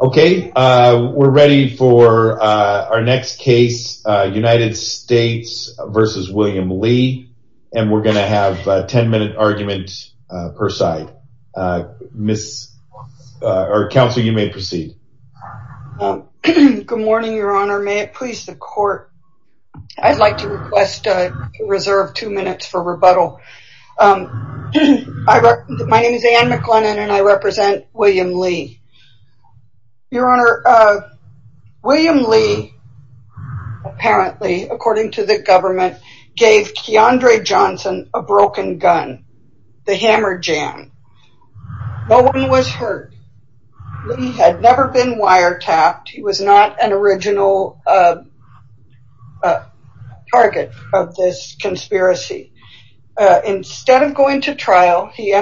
Okay, we're ready for our next case United States v. William Lee and we're going to have a 10-minute argument per side. Council, you may proceed. Good morning, your honor. May it please the court. I'd like to request a reserve two minutes for rebuttal. My name is Anne McLennan and I represent William Lee. Your honor, William Lee apparently, according to the government, gave Keandre Johnson a broken gun, the hammer jam. No one was hurt. He had never been wiretapped. He was not an original target of this conspiracy. Instead of going to trial, he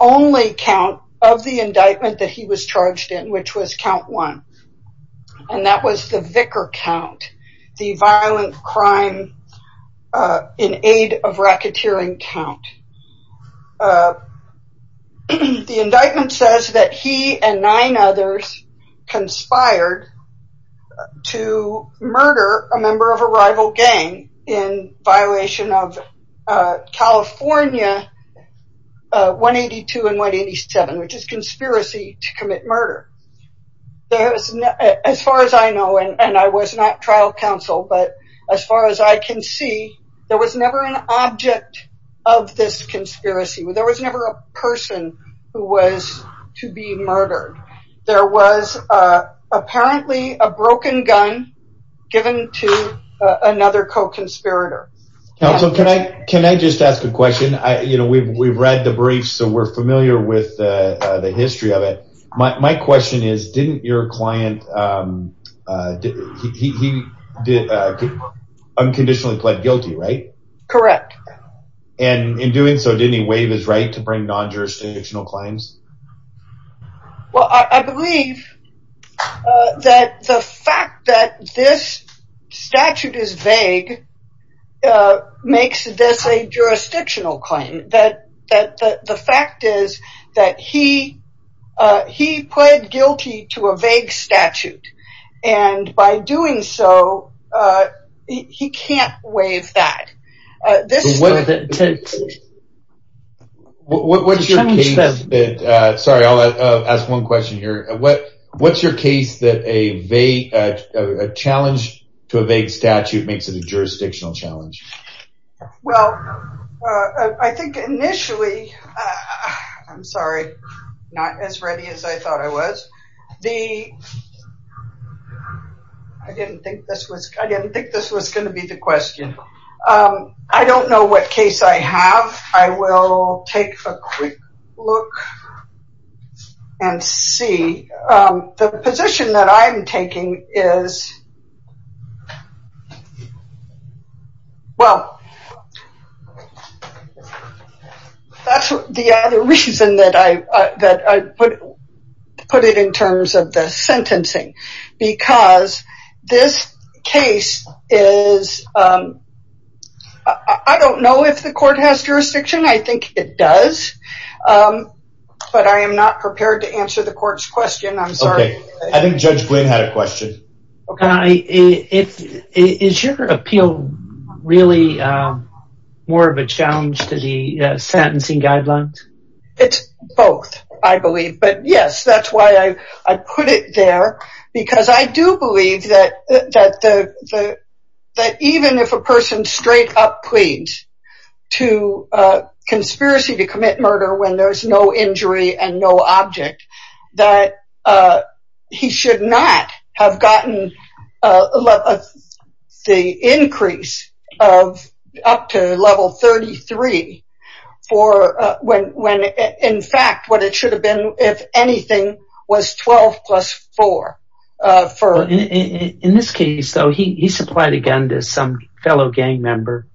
only count of the indictment that he was charged in, which was count one, and that was the vicar count, the violent crime in aid of racketeering count. The indictment says that he and nine others conspired to murder a member of a rival gang in violation of California 182 and 187, which is conspiracy to commit murder. As far as I know, and I was not trial counsel, but as far as I can see, there was never an object of this conspiracy. There was never a person who was to be Counsel, can I just ask a question? We've read the brief, so we're familiar with the history of it. My question is, didn't your client, he unconditionally pled guilty, right? Correct. And in doing so, didn't he waive his right to bring non-jurisdictional claims? Well, I believe that the fact that this statute is vague makes this a jurisdictional claim. The fact is that he pled guilty to a vague statute, and by doing so, he can't waive that. What's your case that a challenge to a vague statute makes it a jurisdictional challenge? Well, I think initially, I'm I didn't think this was going to be the question. I don't know what case I have. I will take a quick look and see. The position that I'm taking is, well, that's the other reason that I put it in terms of the sentencing, because this case is, I don't know if the court has jurisdiction. I think it does, but I am not prepared to answer the court's question. I'm sorry. I think Judge Glynn had a question. Is your appeal really more of a challenge to the sentencing guidelines? It's both, I believe. But yes, that's why I put it there, because I do believe that even if a person straight up pleads to conspiracy to commit murder when there's no injury and no object, that he should not have gotten the increase of up to level 33 for when, in fact, what it should have been, if anything, was 12 plus 4. In this case, though, he supplied a gun to some fellow gang member.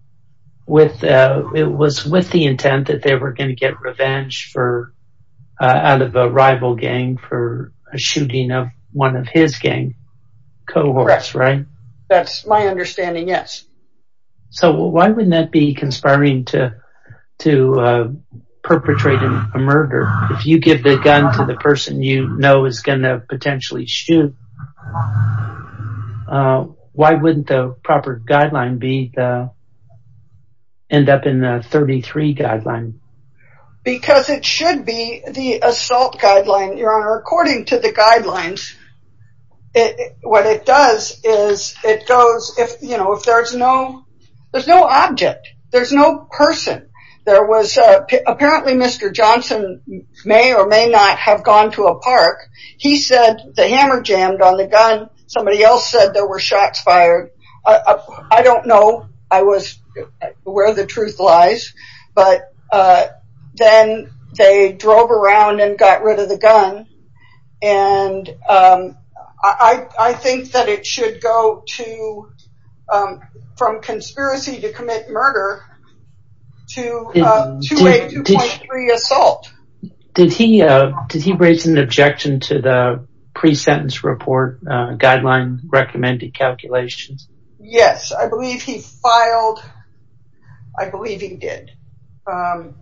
It was with the intent that they were going to get revenge for out of a rival gang for a shooting of one of his gang cohorts, right? That's my understanding. Yes. So why wouldn't that be conspiring to perpetrate a murder? If you give the gun to the person you know is going to potentially shoot, why wouldn't the proper guideline end up in the 33 guideline? Because it should be the assault guideline, Your Honor. According to the guidelines, what it does is it goes if there's no object, there's no person. Apparently, Mr. Johnson may or may not have gone to a park. He said the hammer jammed on the gun. Somebody else said there were shots fired. I don't know where the truth lies, but then they drove around and got rid of the gun. I think that it should go from conspiracy to commit murder to a 2.3 assault. Did he raise an objection to the pre-sentence report guideline recommended calculations? Yes, I believe he filed. I believe he did. Oh,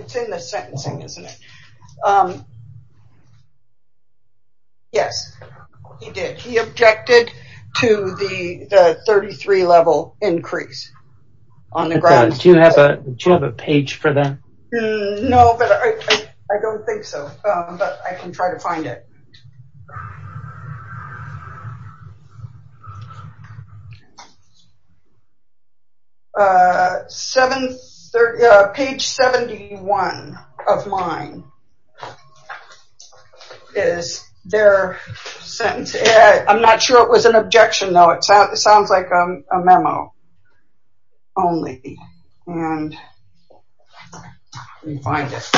it's in the sentencing, isn't it? Yes, he did. He objected to the 33-level increase on the grounds. Do you have a page for that? No, but I don't think so, but I can try to find it. Page 71 of mine is their sentence. I'm not sure it was an objection, though. It sounds like a memo. Only, and let me find it.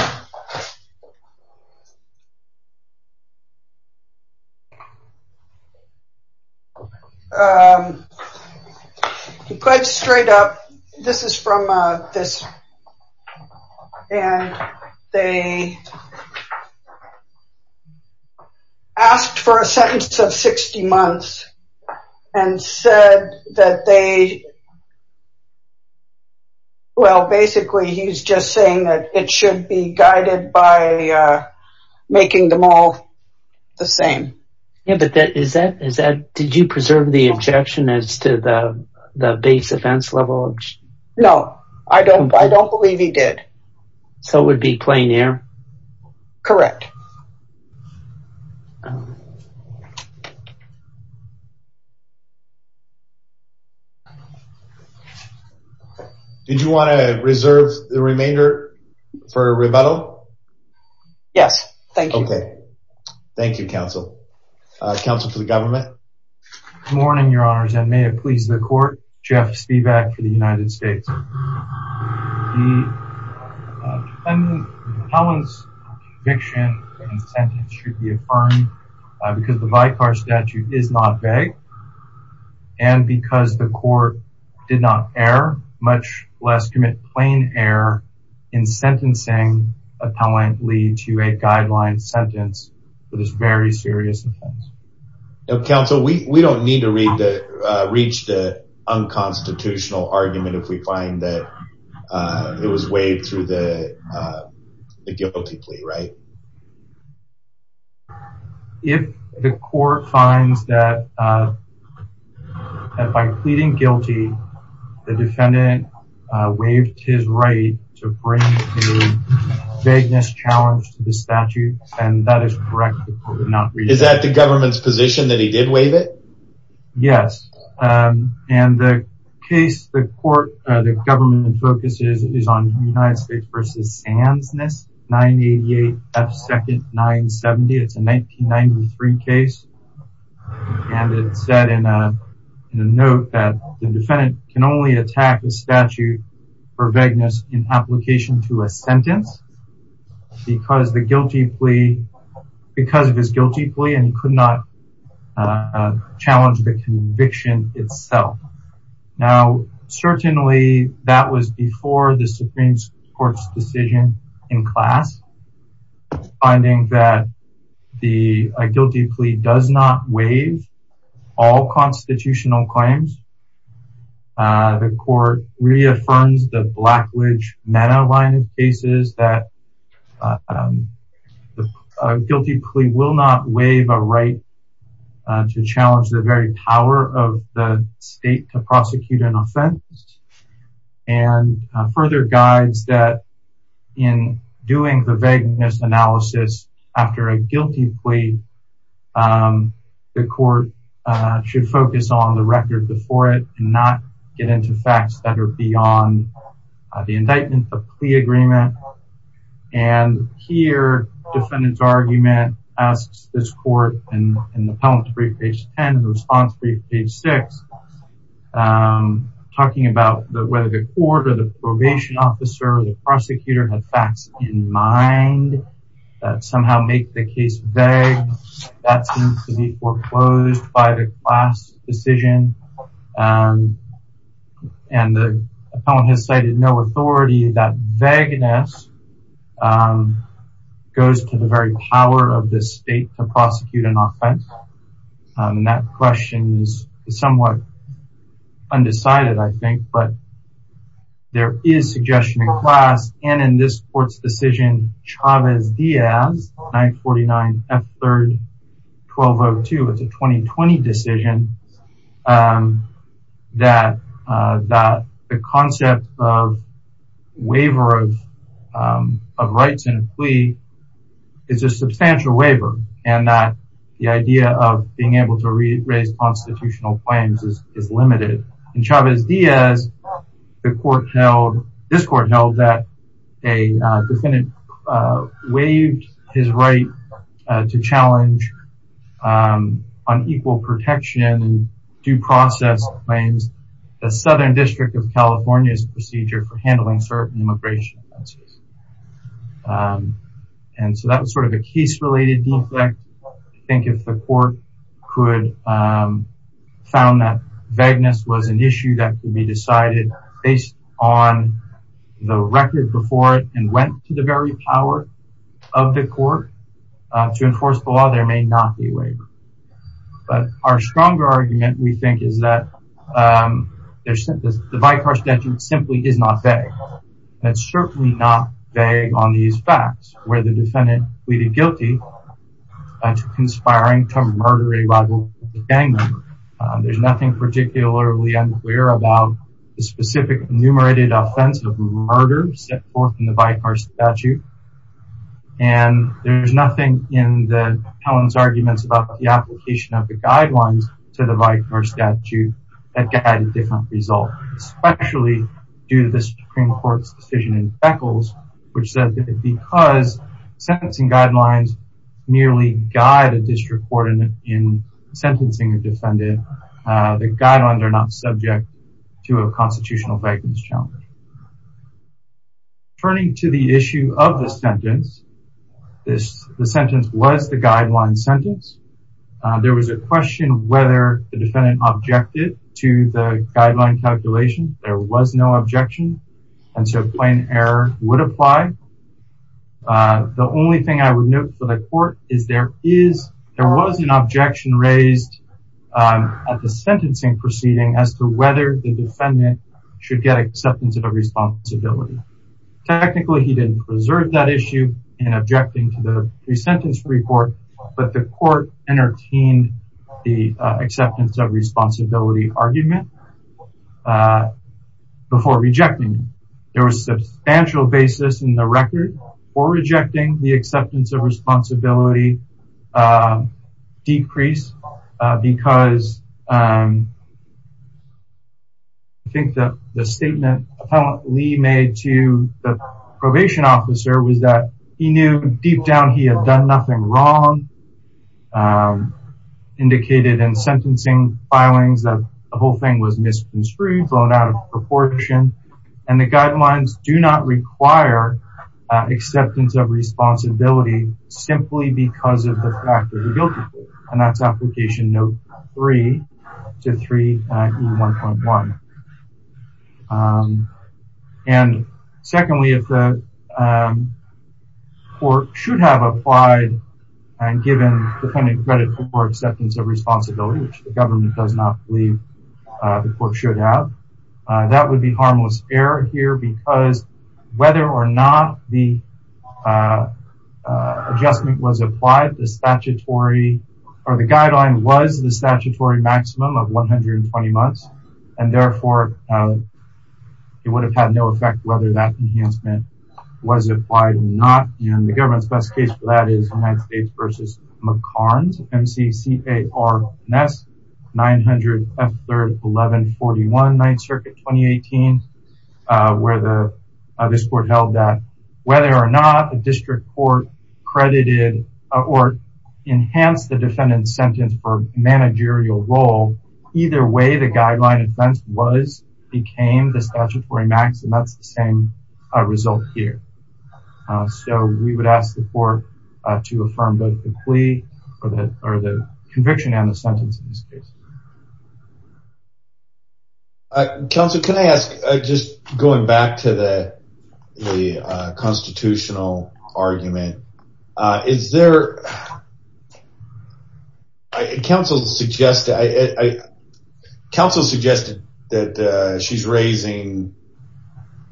Quite straight up, this is from this, and they asked for a sentence of 60 months and said that they, well, basically, he's just saying that it should be guided by making them all the same. Did you preserve the objection as to the base offense level? No, I don't believe he did. So it would be plain air? Correct. Did you want to reserve the remainder for rebuttal? Yes, thank you. Okay, thank you, counsel. Counsel for the government? Good morning, your honors, and may it please the court, Jeff Spivak for the United States. The defendant's conviction and sentence should be affirmed because the vicar statute is not vague, and because the court did not err, much less commit plain error in sentencing a talent lead to a guideline sentence for this very serious offense. Counsel, we don't need to reach the unconstitutional argument if we find that it was waived through the guilty plea, right? If the court finds that by pleading guilty, the defendant waived his right to bring the vagueness challenge to the statute, then that is correct. Is that the government's position that he did waive it? Yes, and the case the court, the government focuses is on United States v. Sands 988 F. Second 970. It's a 1993 case, and it said in a note that the defendant can only attack the statute for vagueness in application to a sentence because of his guilty plea, and could not challenge the conviction itself. Now, certainly, that was before the Supreme Court's decision in class, finding that a guilty plea does not waive all constitutional claims. The court reaffirms the Blackwidge-Meadow line of cases that a guilty plea will not waive a right to challenge the very power of the state to prosecute an offense, and further guides that in doing the vagueness analysis after a guilty plea, the court should focus on the record before it, and not get into facts that are beyond the indictment, the plea agreement, and here, the defendant's argument asks this court, in the Pelham brief, page 10, the response brief, page 6, talking about whether the court or the probation officer or the prosecutor had facts in mind that make the case vague. That seems to be foreclosed by the class decision, and the appellant has cited no authority that vagueness goes to the very power of the state to prosecute an offense, and that question is somewhat undecided, I think, but there is class, and in this court's decision, Chavez-Diaz, 949 F3, 1202, it's a 2020 decision, that the concept of waiver of rights in a plea is a substantial waiver, and that the idea of being able to raise constitutional claims is limited, and Chavez-Diaz, the court held, this court held that a defendant waived his right to challenge unequal protection and due process claims, the Southern District of California's procedure for handling certain immigration offenses, and so that was sort of a case-related defect, I think, if the court could, found that vagueness was an issue that could be decided based on the record before it and went to the very power of the court to enforce the law, there may not be a waiver, but our stronger argument, we think, is that there's the by-car statute simply is not vague. That's certainly not vague on these facts where the conspiring to murder a rival gang member. There's nothing particularly unclear about the specific enumerated offense of murder set forth in the by-car statute, and there's nothing in the felon's arguments about the application of the guidelines to the by-car statute that got a different result, especially due to the Supreme Court's decision in Beckles, which said that because sentencing guidelines merely guide a district court in sentencing a defendant, the guidelines are not subject to a constitutional vagueness challenge. Turning to the issue of the sentence, the sentence was the guideline sentence. There was a question whether the defendant objected to the guideline calculation. There was no objection, and so plain error would apply. The only thing I would note for the court is there was an objection raised at the sentencing proceeding as to whether the defendant should get acceptance of responsibility. Technically, he didn't preserve that issue in objecting to the resentence report, but the court entertained the acceptance of responsibility argument. Before rejecting it, there was a substantial basis in the record for rejecting the acceptance of responsibility decrease because I think that the statement appellant Lee made to the probation officer was that he knew deep down he had done nothing wrong, indicated in sentencing filings that the whole thing was misconstrued, thrown out of proportion, and the guidelines do not require acceptance of responsibility simply because of the fact that he guilty, and that's application note three to 3E1.1. And secondly, if the and given the credit for acceptance of responsibility, which the government does not believe the court should have, that would be harmless error here because whether or not the adjustment was applied, the statutory or the guideline was the statutory maximum of 120 months, and therefore it would have had no effect whether that enhancement was applied or not, and the government's best case for that is United States v. McCarns, MCCARNS, 900 F3-1141, 9th Circuit, 2018, where this court held that whether or not the district court credited or enhanced the defendant's sentence for managerial role, either way, the guideline offense was, became the statutory max, and that's the same result here. So we would ask the court to affirm both the plea or the conviction and the sentence in this case. Counsel, can I ask, just going back to the constitutional argument, is there, I, counsel suggested, I, counsel suggested that she's raising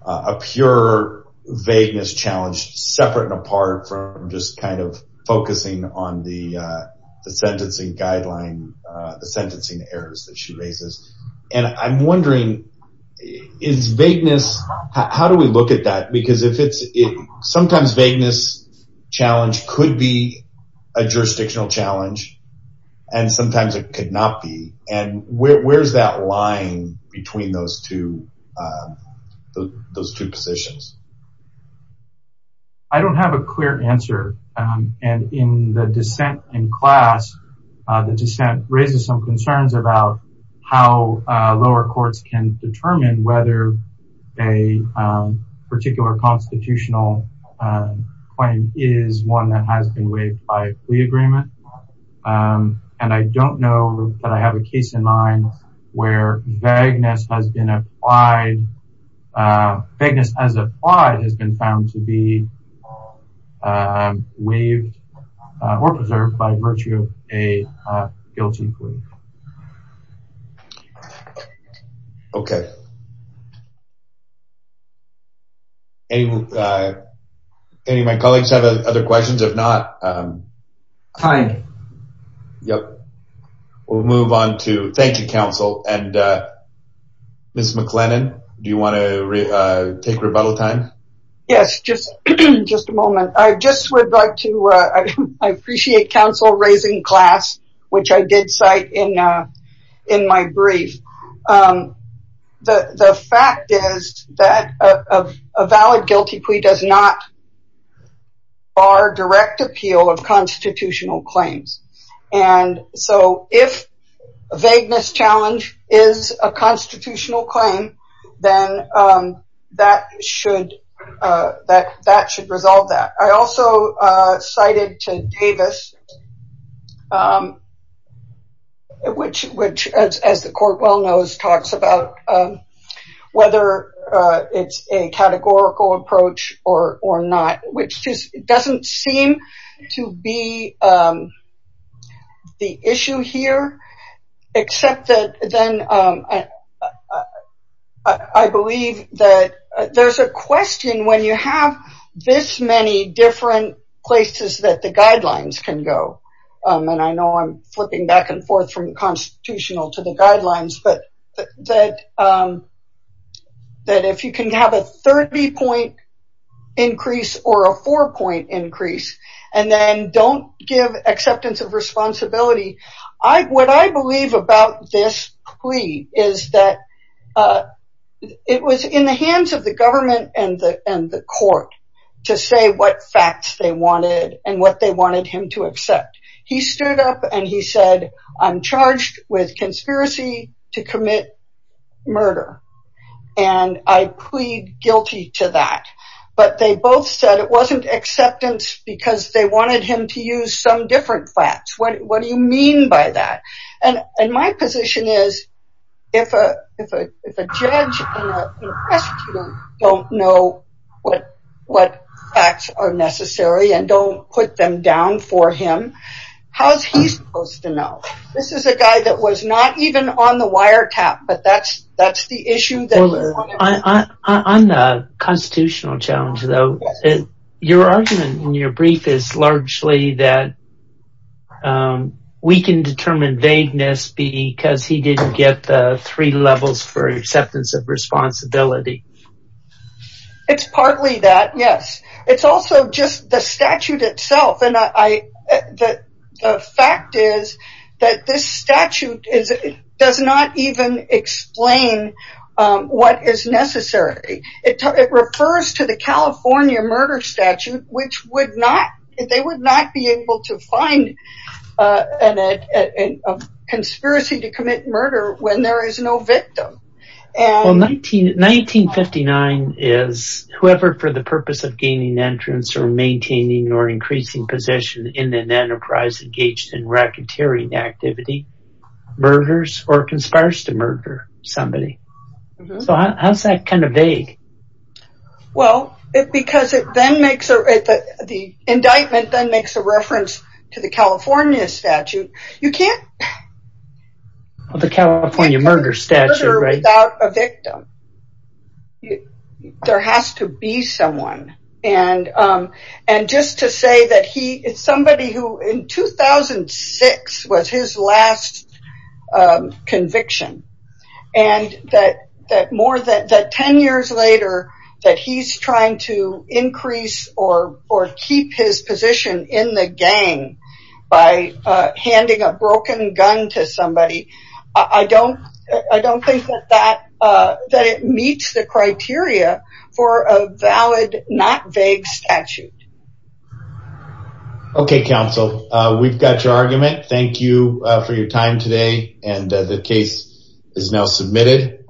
a pure vagueness challenge separate and apart from just kind of focusing on the sentencing guideline, the sentencing errors that she raises, and I'm wondering, is vagueness, how do we look at that? Because if it's, sometimes vagueness challenge could be a jurisdictional challenge, and sometimes it could not be, and where's that line between those two, those two positions? I don't have a clear answer, and in the dissent in class, the dissent raises some concerns about how lower courts can determine whether a particular constitutional claim is one that has been waived by a plea agreement, and I don't know that I have a case in mind where vagueness has been applied, vagueness as applied has been found to be waived or preserved by virtue of a guilty plea. Okay, any of my colleagues have other questions? If not, fine. Yep, we'll move on to, thank you, counsel, and Ms. McLennan, do you want to take rebuttal time? Yes, just a moment. I just would like to, I appreciate counsel raising class, which I did cite in my brief. The fact is that a valid guilty plea does not bar direct appeal of constitutional claims, and so if vagueness challenge is a constitutional claim, then that should, that should resolve that. I also cited to Davis, which, as the court well knows, talks about whether it's a categorical approach or not, which just doesn't seem to be the issue here, except that then, I believe that there's a question when you have this many different places that the guidelines can go, and I know I'm flipping back and forth from constitutional to the guidelines, but that if you can have a 30-point increase or a four-point increase, and then don't give acceptance of responsibility, what I believe about this plea is that it was in the hands of the government and the court to say what facts they wanted and what they wanted him to accept. He stood up and he said, I'm charged with conspiracy to commit murder, and I plead guilty to that, but they both said it wasn't acceptance because they wanted him to use some different facts. What do you mean by that? And my position is if a judge and a prosecutor don't know what facts are necessary and don't put them down for him, how's he supposed to know? This is a guy that was not even on the wiretap, but that's the issue. On the constitutional challenge though, your argument in your brief is largely that we can determine vagueness because he didn't get the levels for acceptance of responsibility. It's partly that, yes. It's also just the statute itself. The fact is that this statute does not even explain what is necessary. It refers to the California murder statute, which they would not be able to find a conspiracy to commit murder when there is no victim. Well, 1959 is whoever for the purpose of gaining entrance or maintaining or increasing position in an enterprise engaged in racketeering activity murders or conspires to murder somebody. So how's that kind of vague? Well, because the indictment then makes a reference to the California statute, you can't murder without a victim. There has to be someone. And just to say that he is somebody who in 2006 was his last conviction. And that 10 years later, that he's trying to increase or keep his position in the gang by handing a broken gun to somebody. I don't think that it meets the criteria for a valid, not vague statute. Okay, counsel, we've got your argument. Thank you for your time today. And the case is now submitted.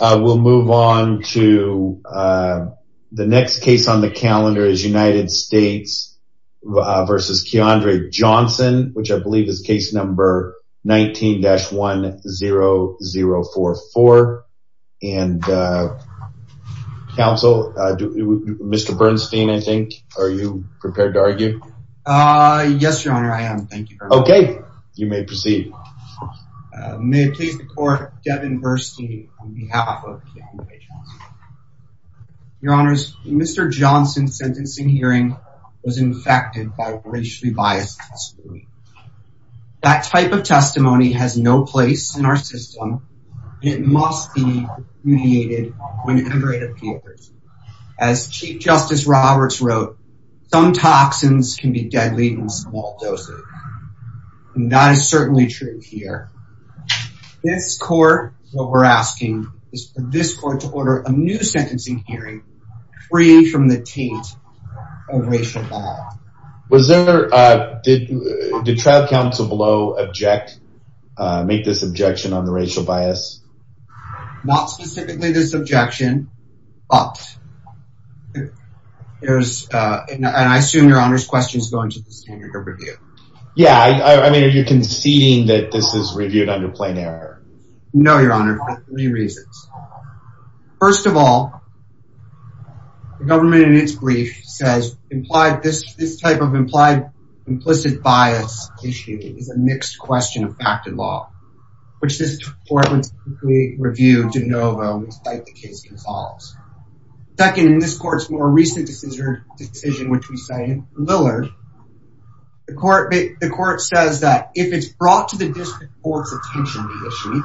We'll move on to the next case on the calendar is United States versus Keandre Johnson, which I believe is case number 19-10044. And counsel, Mr. Bernstein, I think, are you prepared to argue? Yes, your honor, I am. Thank you. Okay, you may proceed. May it please the court, Devin Bernstein on behalf of Keandre Johnson. Your honors, Mr. Johnson's sentencing hearing was infected by racially biased testimony. That type of testimony has no place in our system. It must be mediated whenever it appears. As Chief Justice Roberts wrote, some toxins can be deadly in small doses. And that is certainly true here. This court, what we're asking is for this court to order a new sentencing hearing free from the taint of racial bias. Was there, did the trial counsel below object, make this objection on the racial bias? Not specifically this objection, but there's, and I assume your honor's question is going to the standard of review. Yeah, I mean, are you conceding that this is reviewed under plain error? No, your honor, for three reasons. First of all, the government in its brief says implied, this type of implied implicit bias issue is a mixed question of fact and law, which this court would review de novo despite the case resolves. Second, in this court's more recent decision, which we say in Lillard, the court, the court says that if it's brought to the district court's attention, the issue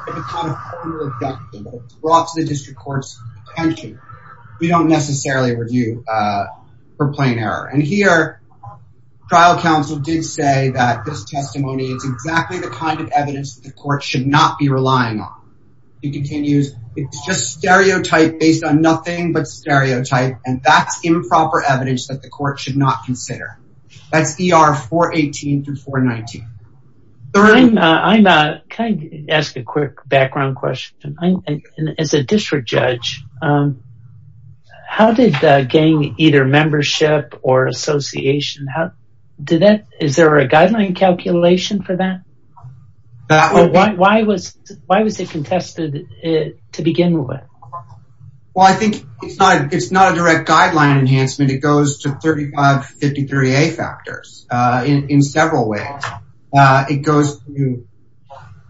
brought to the district court's attention, we don't necessarily review for plain error. And here, trial counsel did say that this testimony is exactly the kind of evidence that the court should not be relying on. It continues, it's just stereotype based on nothing but stereotype, and that's improper evidence that the court should not consider. That's ER 418 through 419. I'm, can I ask a quick background question? As a district judge, how did the gang either membership or association, how did that, is there a guideline calculation for that? Well, why was, why was it contested to begin with? Well, I think it's not, it's not a direct guideline enhancement. It goes to 3553A factors in several ways. It goes to,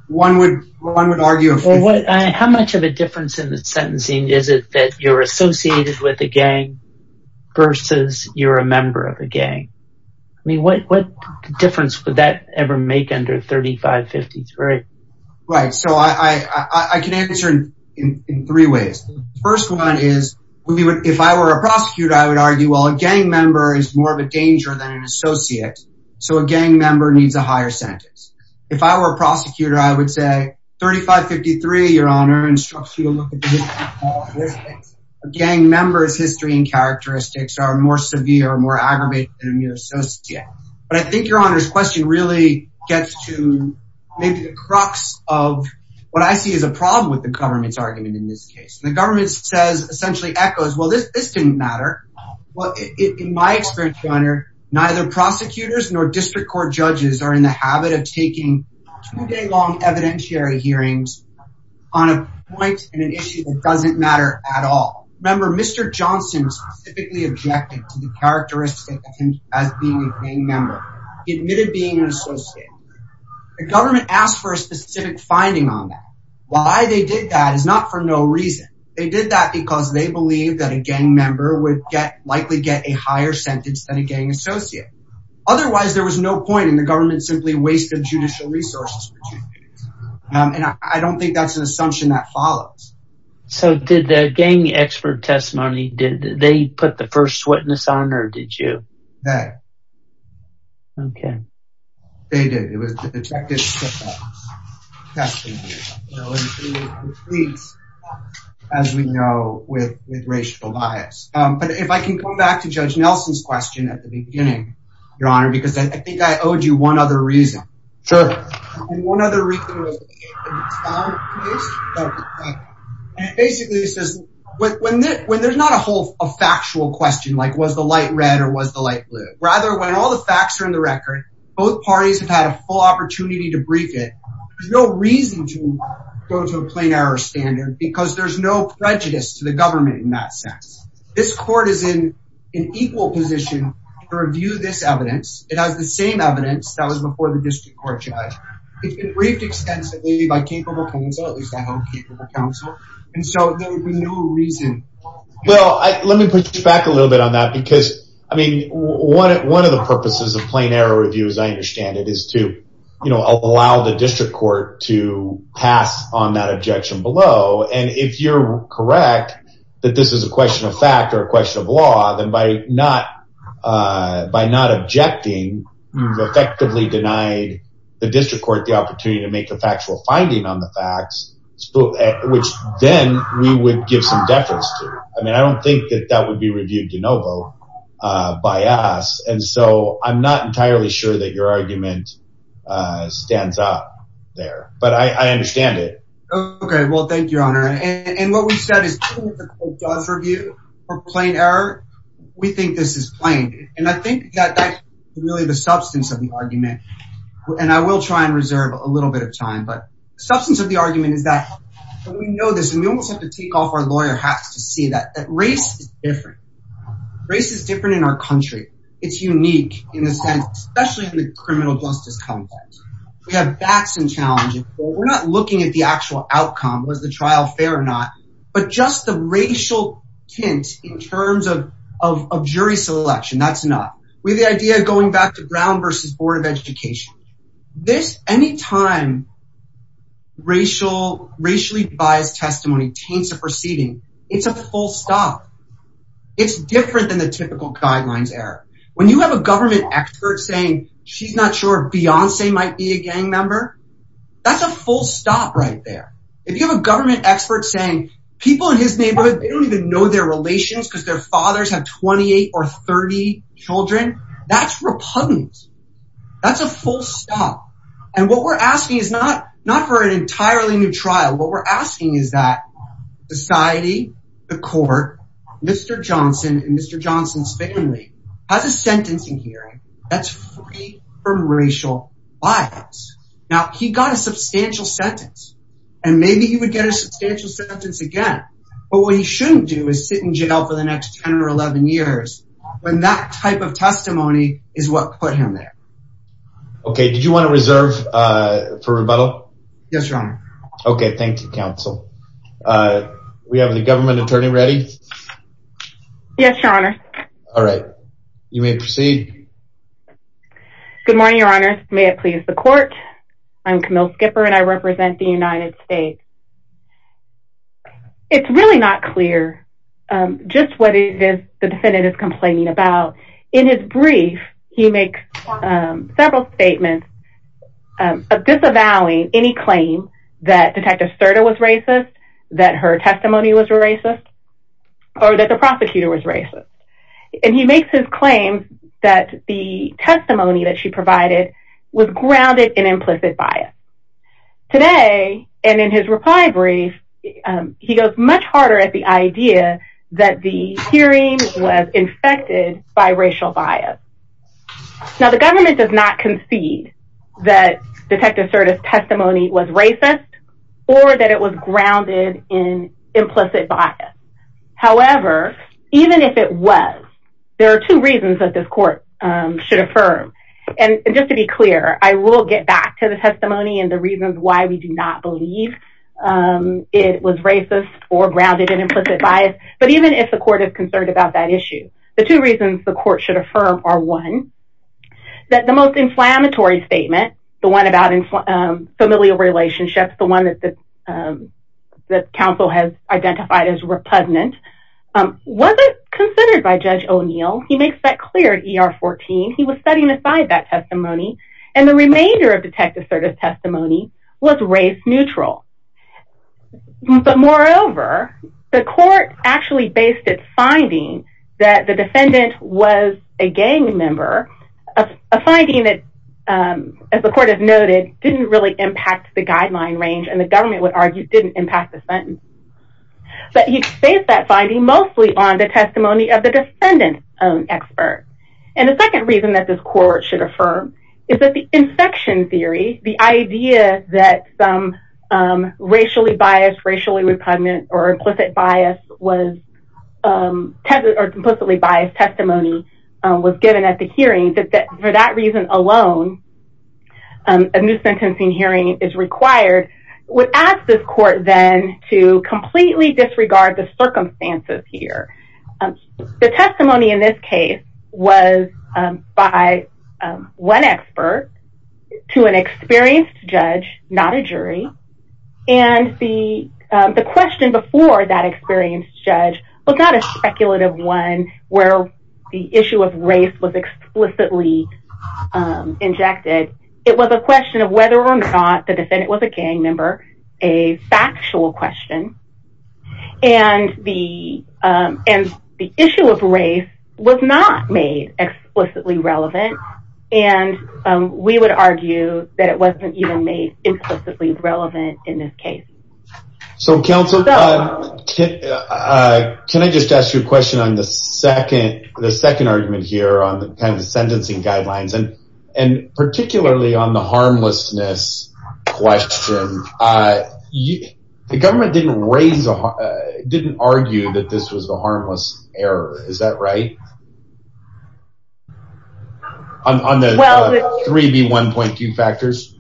one would, one would argue, how much of a difference in the sentencing is it that you're associated with a gang versus you're a member of a gang? I mean, what difference would that ever make under 3553? Right, so I can answer in three ways. The first one is, if I were a prosecutor, I would argue, well, a gang member is more of a danger than an associate, so a gang member needs a higher sentence. If I were a prosecutor, I would say, 3553, your honor, instructs you to look at the aggravated than your associate. But I think your honor's question really gets to maybe the crux of what I see as a problem with the government's argument in this case. The government says, essentially echoes, well, this, this didn't matter. Well, in my experience, your honor, neither prosecutors nor district court judges are in the habit of taking two day long evidentiary hearings on a point in an issue that doesn't matter at all. Remember, Mr. Johnson specifically objected to the characteristic of him as being a gang member. He admitted being an associate. The government asked for a specific finding on that. Why they did that is not for no reason. They did that because they believe that a gang member would get likely get a higher sentence than a gang associate. Otherwise, there was no point in the government simply wasted judicial resources. And I don't think that's an assumption that follows. So did the gang expert testimony, they put the first witness on or did you? Okay. They did. It was the detective. As we know, with racial bias. But if I can come back to judge Nelson's question at the beginning, your honor, because I think I owed you one other reason. Sure. One other reason. So basically it says, when there's not a whole factual question, like was the light red or was the light blue? Rather, when all the facts are in the record, both parties have had a full opportunity to brief it. There's no reason to go to a plain error standard because there's no prejudice to the government in that sense. This court is in an equal position to review this by capable counsel. And so there's no reason. Well, let me put you back a little bit on that because I mean, one of the purposes of plain error review, as I understand it, is to allow the district court to pass on that objection below. And if you're correct, that this is a question of fact or a question of law, then by not objecting, you've effectively denied the district court the opportunity to make a factual finding on the facts, which then we would give some deference to. I mean, I don't think that that would be reviewed de novo by us. And so I'm not entirely sure that your argument stands up there, but I understand it. Okay. Well, thank you, your honor. And what we've said is the court does review for plain error. We think this is plain. And I think that that's really the substance of the argument. And I will try and reserve a little bit of time. But the substance of the argument is that we know this and we almost have to take off our lawyer hats to see that race is different. Race is different in our country. It's unique in a sense, especially in the criminal justice context. We have facts and challenges. We're not looking at the actual outcome, was the trial fair or not, but just the racial tint in terms of jury selection, that's not. We have the idea of going back to Brown versus Board of Education. This, any time racially biased testimony taints a proceeding, it's a full stop. It's different than the typical guidelines error. When you have a government expert saying she's not sure Beyonce might be a gang member, that's a full stop right there. If you have a government expert saying people in his neighborhood, they don't even know their relations because their fathers have 28 or 30 children, that's repugnant. That's a full stop. And what we're asking is not for an entirely new trial. What we're asking is that society, the court, Mr. Johnson and Mr. Johnson's family has a sentencing hearing that's free from racial bias. Now he got a substantial sentence and maybe he would get a substantial sentence again, but what he shouldn't do is sit in jail for the next 10 or 11 years when that type of testimony is what put him there. Okay, did you want to reserve for rebuttal? Yes, Your Honor. Okay, thank you, counsel. We have the government attorney ready? Yes, Your Honor. All right, you may proceed. Good morning, Your Honor. May it please the court? I'm Camille Skipper and I represent the United States. It's really not clear just what it is the defendant is complaining about. In his brief, he makes several statements disavowing any claim that Detective Serta was racist, that her testimony was racist, or that the prosecutor was racist. And he makes his claim that the testimony that she provided was grounded in implicit bias. Today, and in his reply brief, he goes much harder at the idea that the hearing was infected by racial bias. Now, the government does not concede that Detective Serta's testimony was grounded in implicit bias. However, even if it was, there are two reasons that this court should affirm. And just to be clear, I will get back to the testimony and the reasons why we do not believe it was racist or grounded in implicit bias. But even if the court is concerned about that issue, the two reasons the court should affirm are one, that the most inflammatory statement, the one about familial relationships, the one that the council has identified as repugnant, wasn't considered by Judge O'Neill. He makes that clear in ER 14. He was setting aside that testimony. And the remainder of Detective Serta's testimony was race neutral. But moreover, the court actually based its finding that the defendant was a gang member, a finding that the court has noted didn't really impact the guideline range, and the government would argue didn't impact the sentence. But he based that finding mostly on the testimony of the defendant own expert. And the second reason that this court should affirm is that the infection theory, the idea that some racially biased, racially repugnant, or implicit bias testimony was given at the hearing, that for that reason alone, a new sentencing hearing is required, would ask this court then to completely disregard the circumstances here. The testimony in this case was by one expert to an experienced judge, not a jury. And the question before that experienced judge was not a speculative one where the issue of race was explicitly injected. It was a question of whether or not the defendant was a gang member, a factual question. And the issue of race was not made explicitly relevant. And we would argue that it wasn't even made implicitly relevant in this Can I just ask you a question on the second argument here on the kind of sentencing guidelines, and particularly on the harmlessness question. The government didn't raise, didn't argue that this was the harmless error, is that right? On the 3B1.2 factors?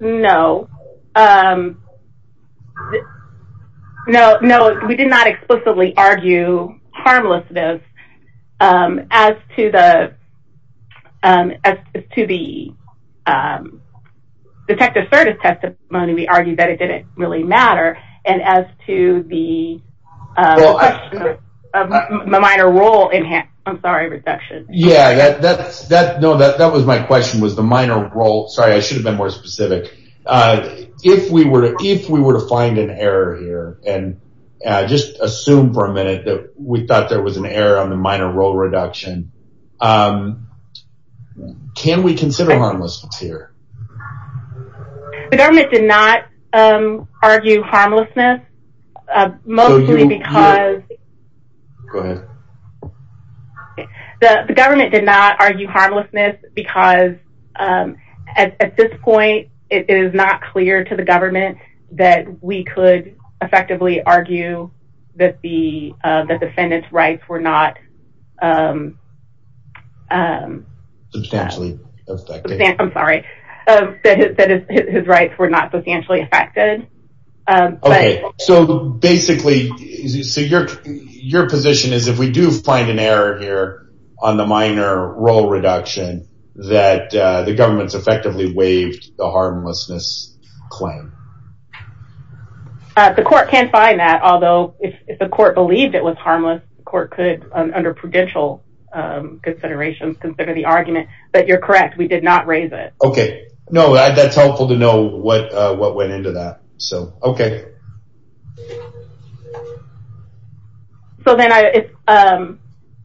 No. No, we did not explicitly argue harmlessness. As to the detective service testimony, we argued that it didn't really matter. And as to the minor role I'm sorry, reduction. Yeah, that was my question, was the minor role. Sorry, I should have been more specific. If we were to find an error here, and just assume for a minute that we thought there was an error on the minor role reduction, can we consider harmlessness here? The government did not argue harmlessness, mostly because the government did not argue harmlessness because at this point, it is not clear to the government that we could effectively argue that the defendant's rights were not substantially affected. I'm sorry, that his rights were not substantially affected. Okay, so basically, your position is if we do find an error here on the minor role reduction, that the government's effectively waived the harmlessness claim. The court can find that, although if the court believed it was harmless, the court could, under prudential considerations, consider the argument. But you're correct, we did not raise it. Okay, no, that's helpful to know what went into that. So, okay. So then,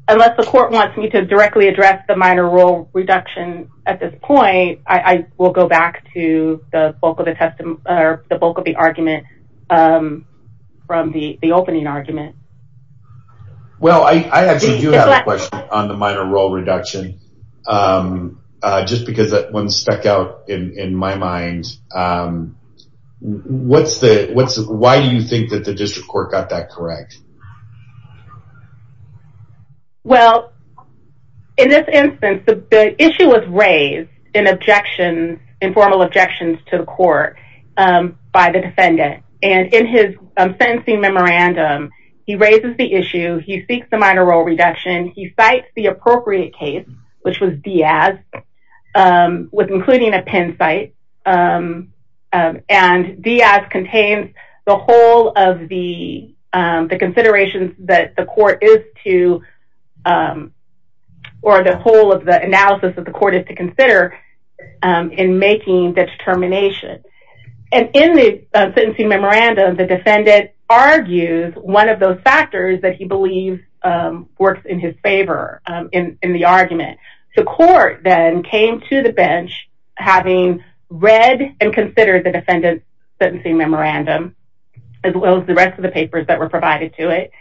unless the court wants me to directly address the minor role reduction at this point, I will go back to the bulk of the argument from the opening argument. Well, I actually do have a question on the minor role reduction, just because that one stuck out in my mind. Why do you think that the district court got that correct? Well, in this instance, the issue was raised in objections, informal objections to the court by the defendant. And in his sentencing memorandum, he raises the issue, he seeks the minor role reduction, he cites the appropriate case, which was Diaz, with including a pen cite. And Diaz contains the whole of the considerations that the court is to, or the whole of the analysis that the court is to consider in making the determination. And in the sentencing memorandum, the defendant argues one of those factors that he believes works in his favor in the argument. The court then came to the bench, having read and considered the defendant's sentencing memorandum, as well as the rest of the papers that were provided to it.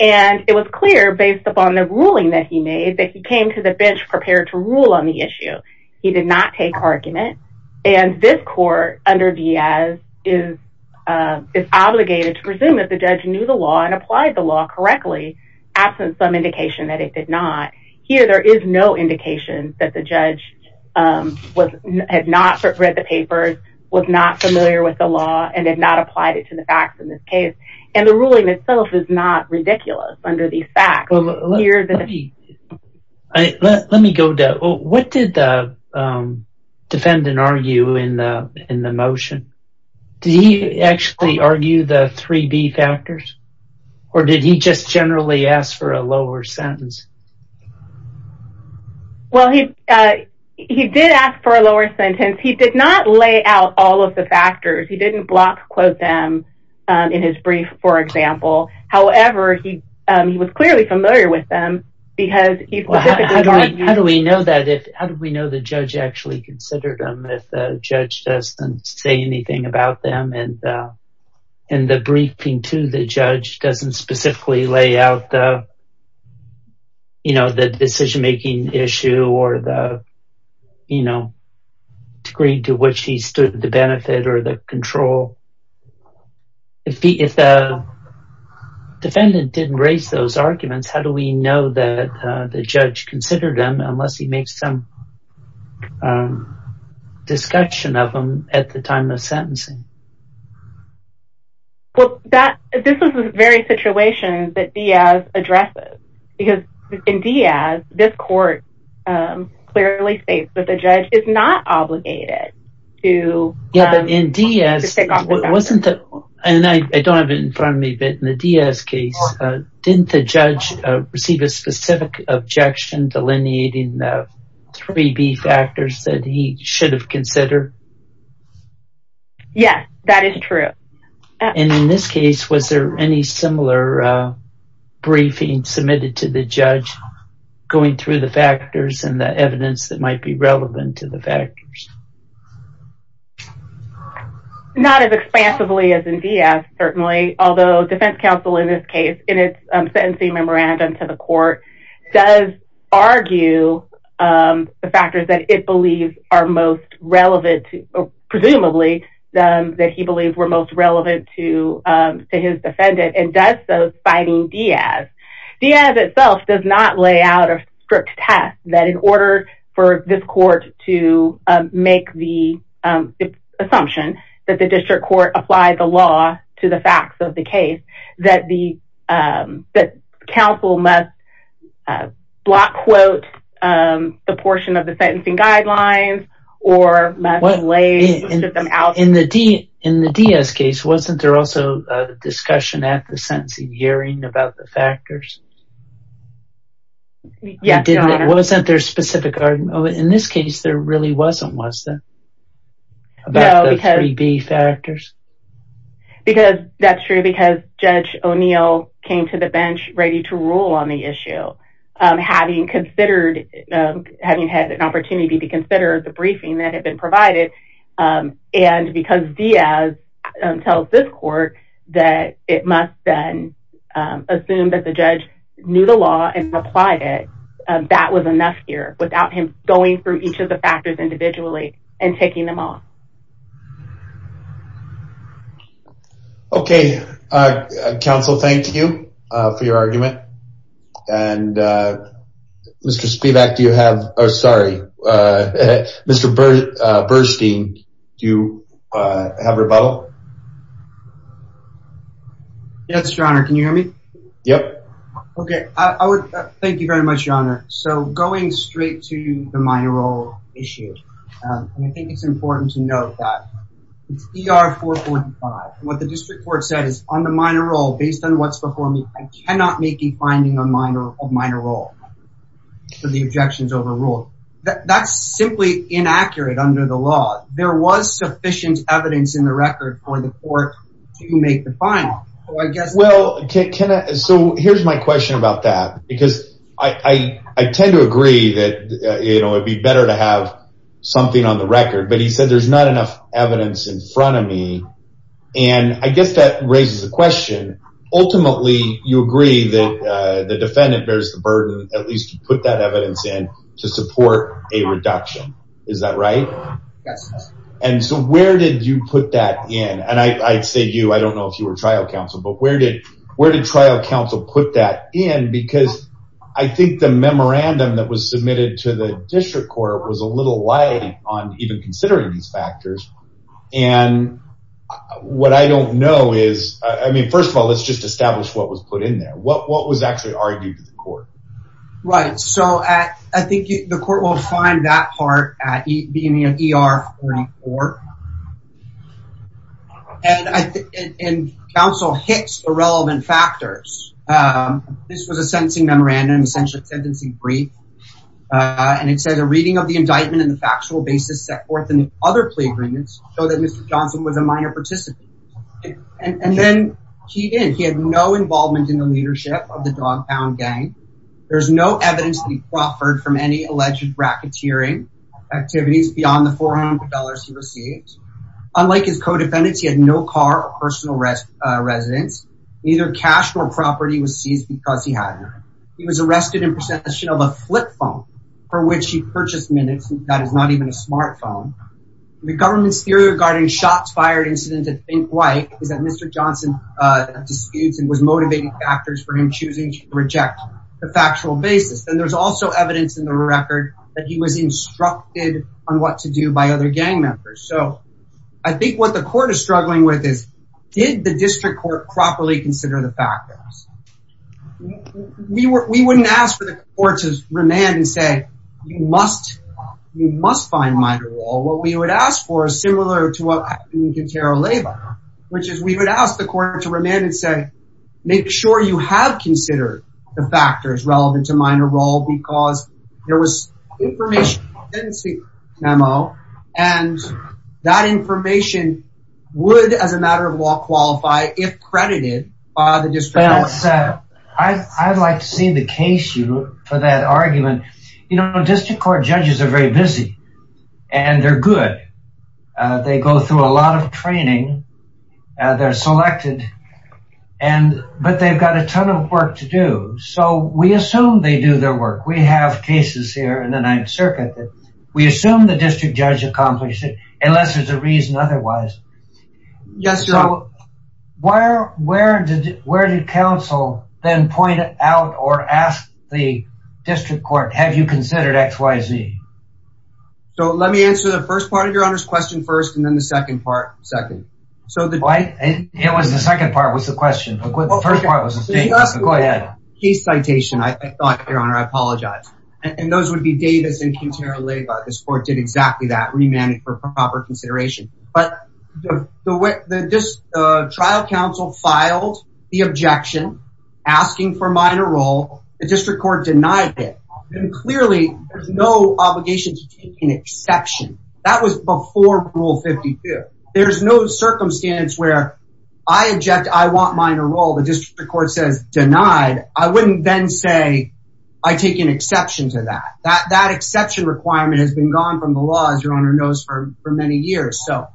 And it was clear based upon the ruling that he made that he came to the bench prepared to rule on the issue. He did not take argument. And this court under Diaz is obligated to presume that the judge knew the law and applied the law correctly, absent some indication that it did not. Here, there is no indication that the judge had not read the papers, was not familiar with the law, and had not applied it to the facts in this case. And the ruling itself is not ridiculous under these facts. Let me go, what did the defendant argue in the motion? Did he actually argue the three B factors? Or did he just generally ask for a lower sentence? Well, he did ask for a lower sentence. He did not lay out all of the factors. He didn't block them in his brief, for example. However, he was clearly familiar with them. How do we know that? How do we know the judge actually considered them if the judge doesn't say anything about them? And the briefing to the judge doesn't specifically lay out the, you know, the decision making issue or the, you know, degree to which he stood the benefit or the control. If the defendant didn't raise those arguments, how do we know that the judge considered them unless he makes some discussion of them at the time of sentencing? Well, this is the very situation that Diaz addresses. Because in Diaz, this court clearly states that the judge is not obligated to... Yeah, but in Diaz, it wasn't that, and I don't have it in front of me, but in the Diaz case, didn't the judge receive a specific objection delineating the three B factors that he should have considered? Yes, that is true. And in this case, was there any similar briefing submitted to the judge going through the factors and the evidence that might be relevant to the factors? Not as expansively as in Diaz, certainly, although defense counsel in this case, in its sentencing memorandum to the court, does argue the factors that it believes are most relevant, presumably, that he believes were most relevant to his defendant and does so citing Diaz. Diaz itself does not lay out a strict test that in order for this court to make the assumption that the district court applied the law to the facts of the case, that counsel must block quote the portion of the sentencing guidelines or must lay them out. In the Diaz case, wasn't there also a discussion at the sentencing hearing about the factors? Yes, Your Honor. Wasn't there a specific argument? In this case, there really wasn't, was there? About the three B factors? Because that's true, because Judge O'Neill came to the bench ready to rule on the issue, having considered, having had an opportunity to consider the briefing that had been provided. And because Diaz tells this court that it must then assume that the judge knew the law and applied it, that was enough here without him going through each of the factors individually and taking them off. Okay, counsel, thank you for your argument. And Mr. Spivak, do you have, oh sorry, Mr. Burstein, do you have a rebuttal? Yes, Your Honor, can you hear me? Yep. Okay, I would, thank you very much, Your Honor. So, going straight to the minor role issue, and I think it's important to note that it's ER 445. What the district court said is on the minor role, based on what's before me, I cannot make a finding of minor role for the objections over rule. That's simply inaccurate under the law. There was sufficient evidence in the record for the court to make the finding, so I guess... Well, can I, so here's my question about that, because I tend to agree that, you know, it'd be better to have something on the record, but he said there's not enough evidence in front of me, and I guess that raises a question. Ultimately, you agree that the defendant bears the burden, at least you put that evidence in, to support a reduction, is that right? Yes. And so, where did you put that in, and I'd say you, I don't know if you were trial counsel, but where did trial counsel put that in, because I think the memorandum that was submitted to the district court was a little light on even considering these factors, and what I don't know is, I mean, first of all, let's just establish what was put in there. What was actually argued in court? Right, so I think the court will find that part at ER44, and counsel hits irrelevant factors. This was a sentencing memorandum, essentially a sentencing brief, and it said, a reading of the indictment and the factual basis set forth in the other plea agreements show that Mr. Johnson was a minor participant, and then he did, he had no involvement in the There's no evidence that he proffered from any alleged racketeering activities beyond the $400 he received. Unlike his co-defendants, he had no car or personal residence, neither cash nor property was seized because he had none. He was arrested in possession of a flip phone, for which he purchased minutes, and that is not even a smartphone. The government's theory regarding shots fired incident at Fink White is that Mr. Johnson disputes and was motivated factors for him choosing to reject the factual basis. And there's also evidence in the record that he was instructed on what to do by other gang members. So I think what the court is struggling with is, did the district court properly consider the factors? We wouldn't ask for the court to remand and say, you must, you must find minor at all. What we would ask for similar to what happened in Quintero Leyva, which is we would ask the court to remand and say, make sure you have considered the factors relevant to minor role because there was information memo, and that information would as a matter of law qualify if credited by the district. I'd like to see the case for that argument. You know, district court judges are very busy, and they're good. They go through a lot of training. They're selected. And but they've got a ton of work to do. So we assume they do their work. We have cases here in the Ninth Circuit that we assume the district judge accomplished it, unless there's a reason otherwise. Yes. So where, where did where did counsel then point out or ask the district court? Have you considered XYZ? So let me answer the first part of your honor's question first, and then the second part. Second. So the why it was the second part was the question. The first part was a case citation. I thought your honor, I apologize. And those would be Davis and Quintero Leyva. This court did exactly that remanded for proper consideration. But the way that this trial counsel filed the objection, asking for minor role, the district court denied it. And clearly, there's no obligation to take an exception. That was before Rule 52. There's no circumstance where I object. I want minor role. The district court says denied. I wouldn't then say, I take an exception to that. That exception requirement has been gone from the law, as your honor knows, for many years. So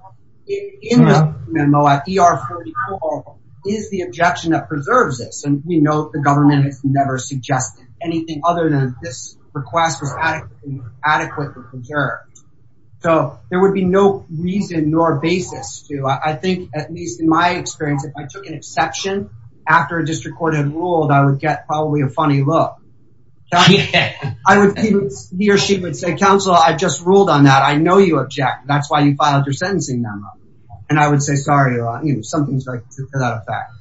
in the memo at ER44, is the objection that preserves this. And we know the government has never suggested anything other than this request was adequately preserved. So there would be no reason nor basis to, I think, at least in my experience, if I took an exception, after a district court had ruled, I would get probably a funny look. I would, he or she would say, counsel, I just ruled on that. I know you object. That's why you filed your sentencing memo. And I would say, sorry, your honor, you know, without a fact.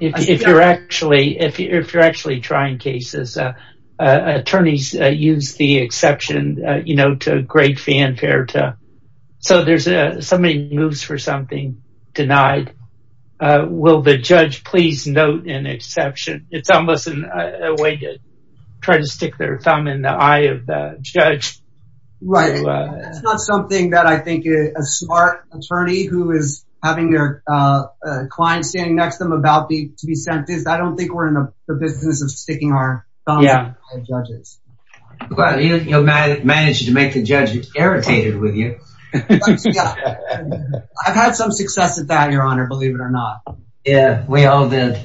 If you're actually trying cases, attorneys use the exception, you know, to great fanfare. So there's somebody moves for something, denied. Will the judge please note an exception? It's almost a way to try to stick their thumb in the eye of the judge. Right. It's not something that I think a smart attorney who is having their client standing next to them about to be sentenced. I don't think we're in the business of sticking our thumb in the eye of judges. You managed to make the judge irritated with you. I've had some success at that, your honor, believe it or not. Yeah, we all did.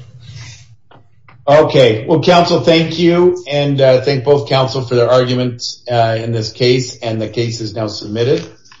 Okay. Well, counsel, thank you. And thank both counsel for their arguments in this case. And the case is now submitted.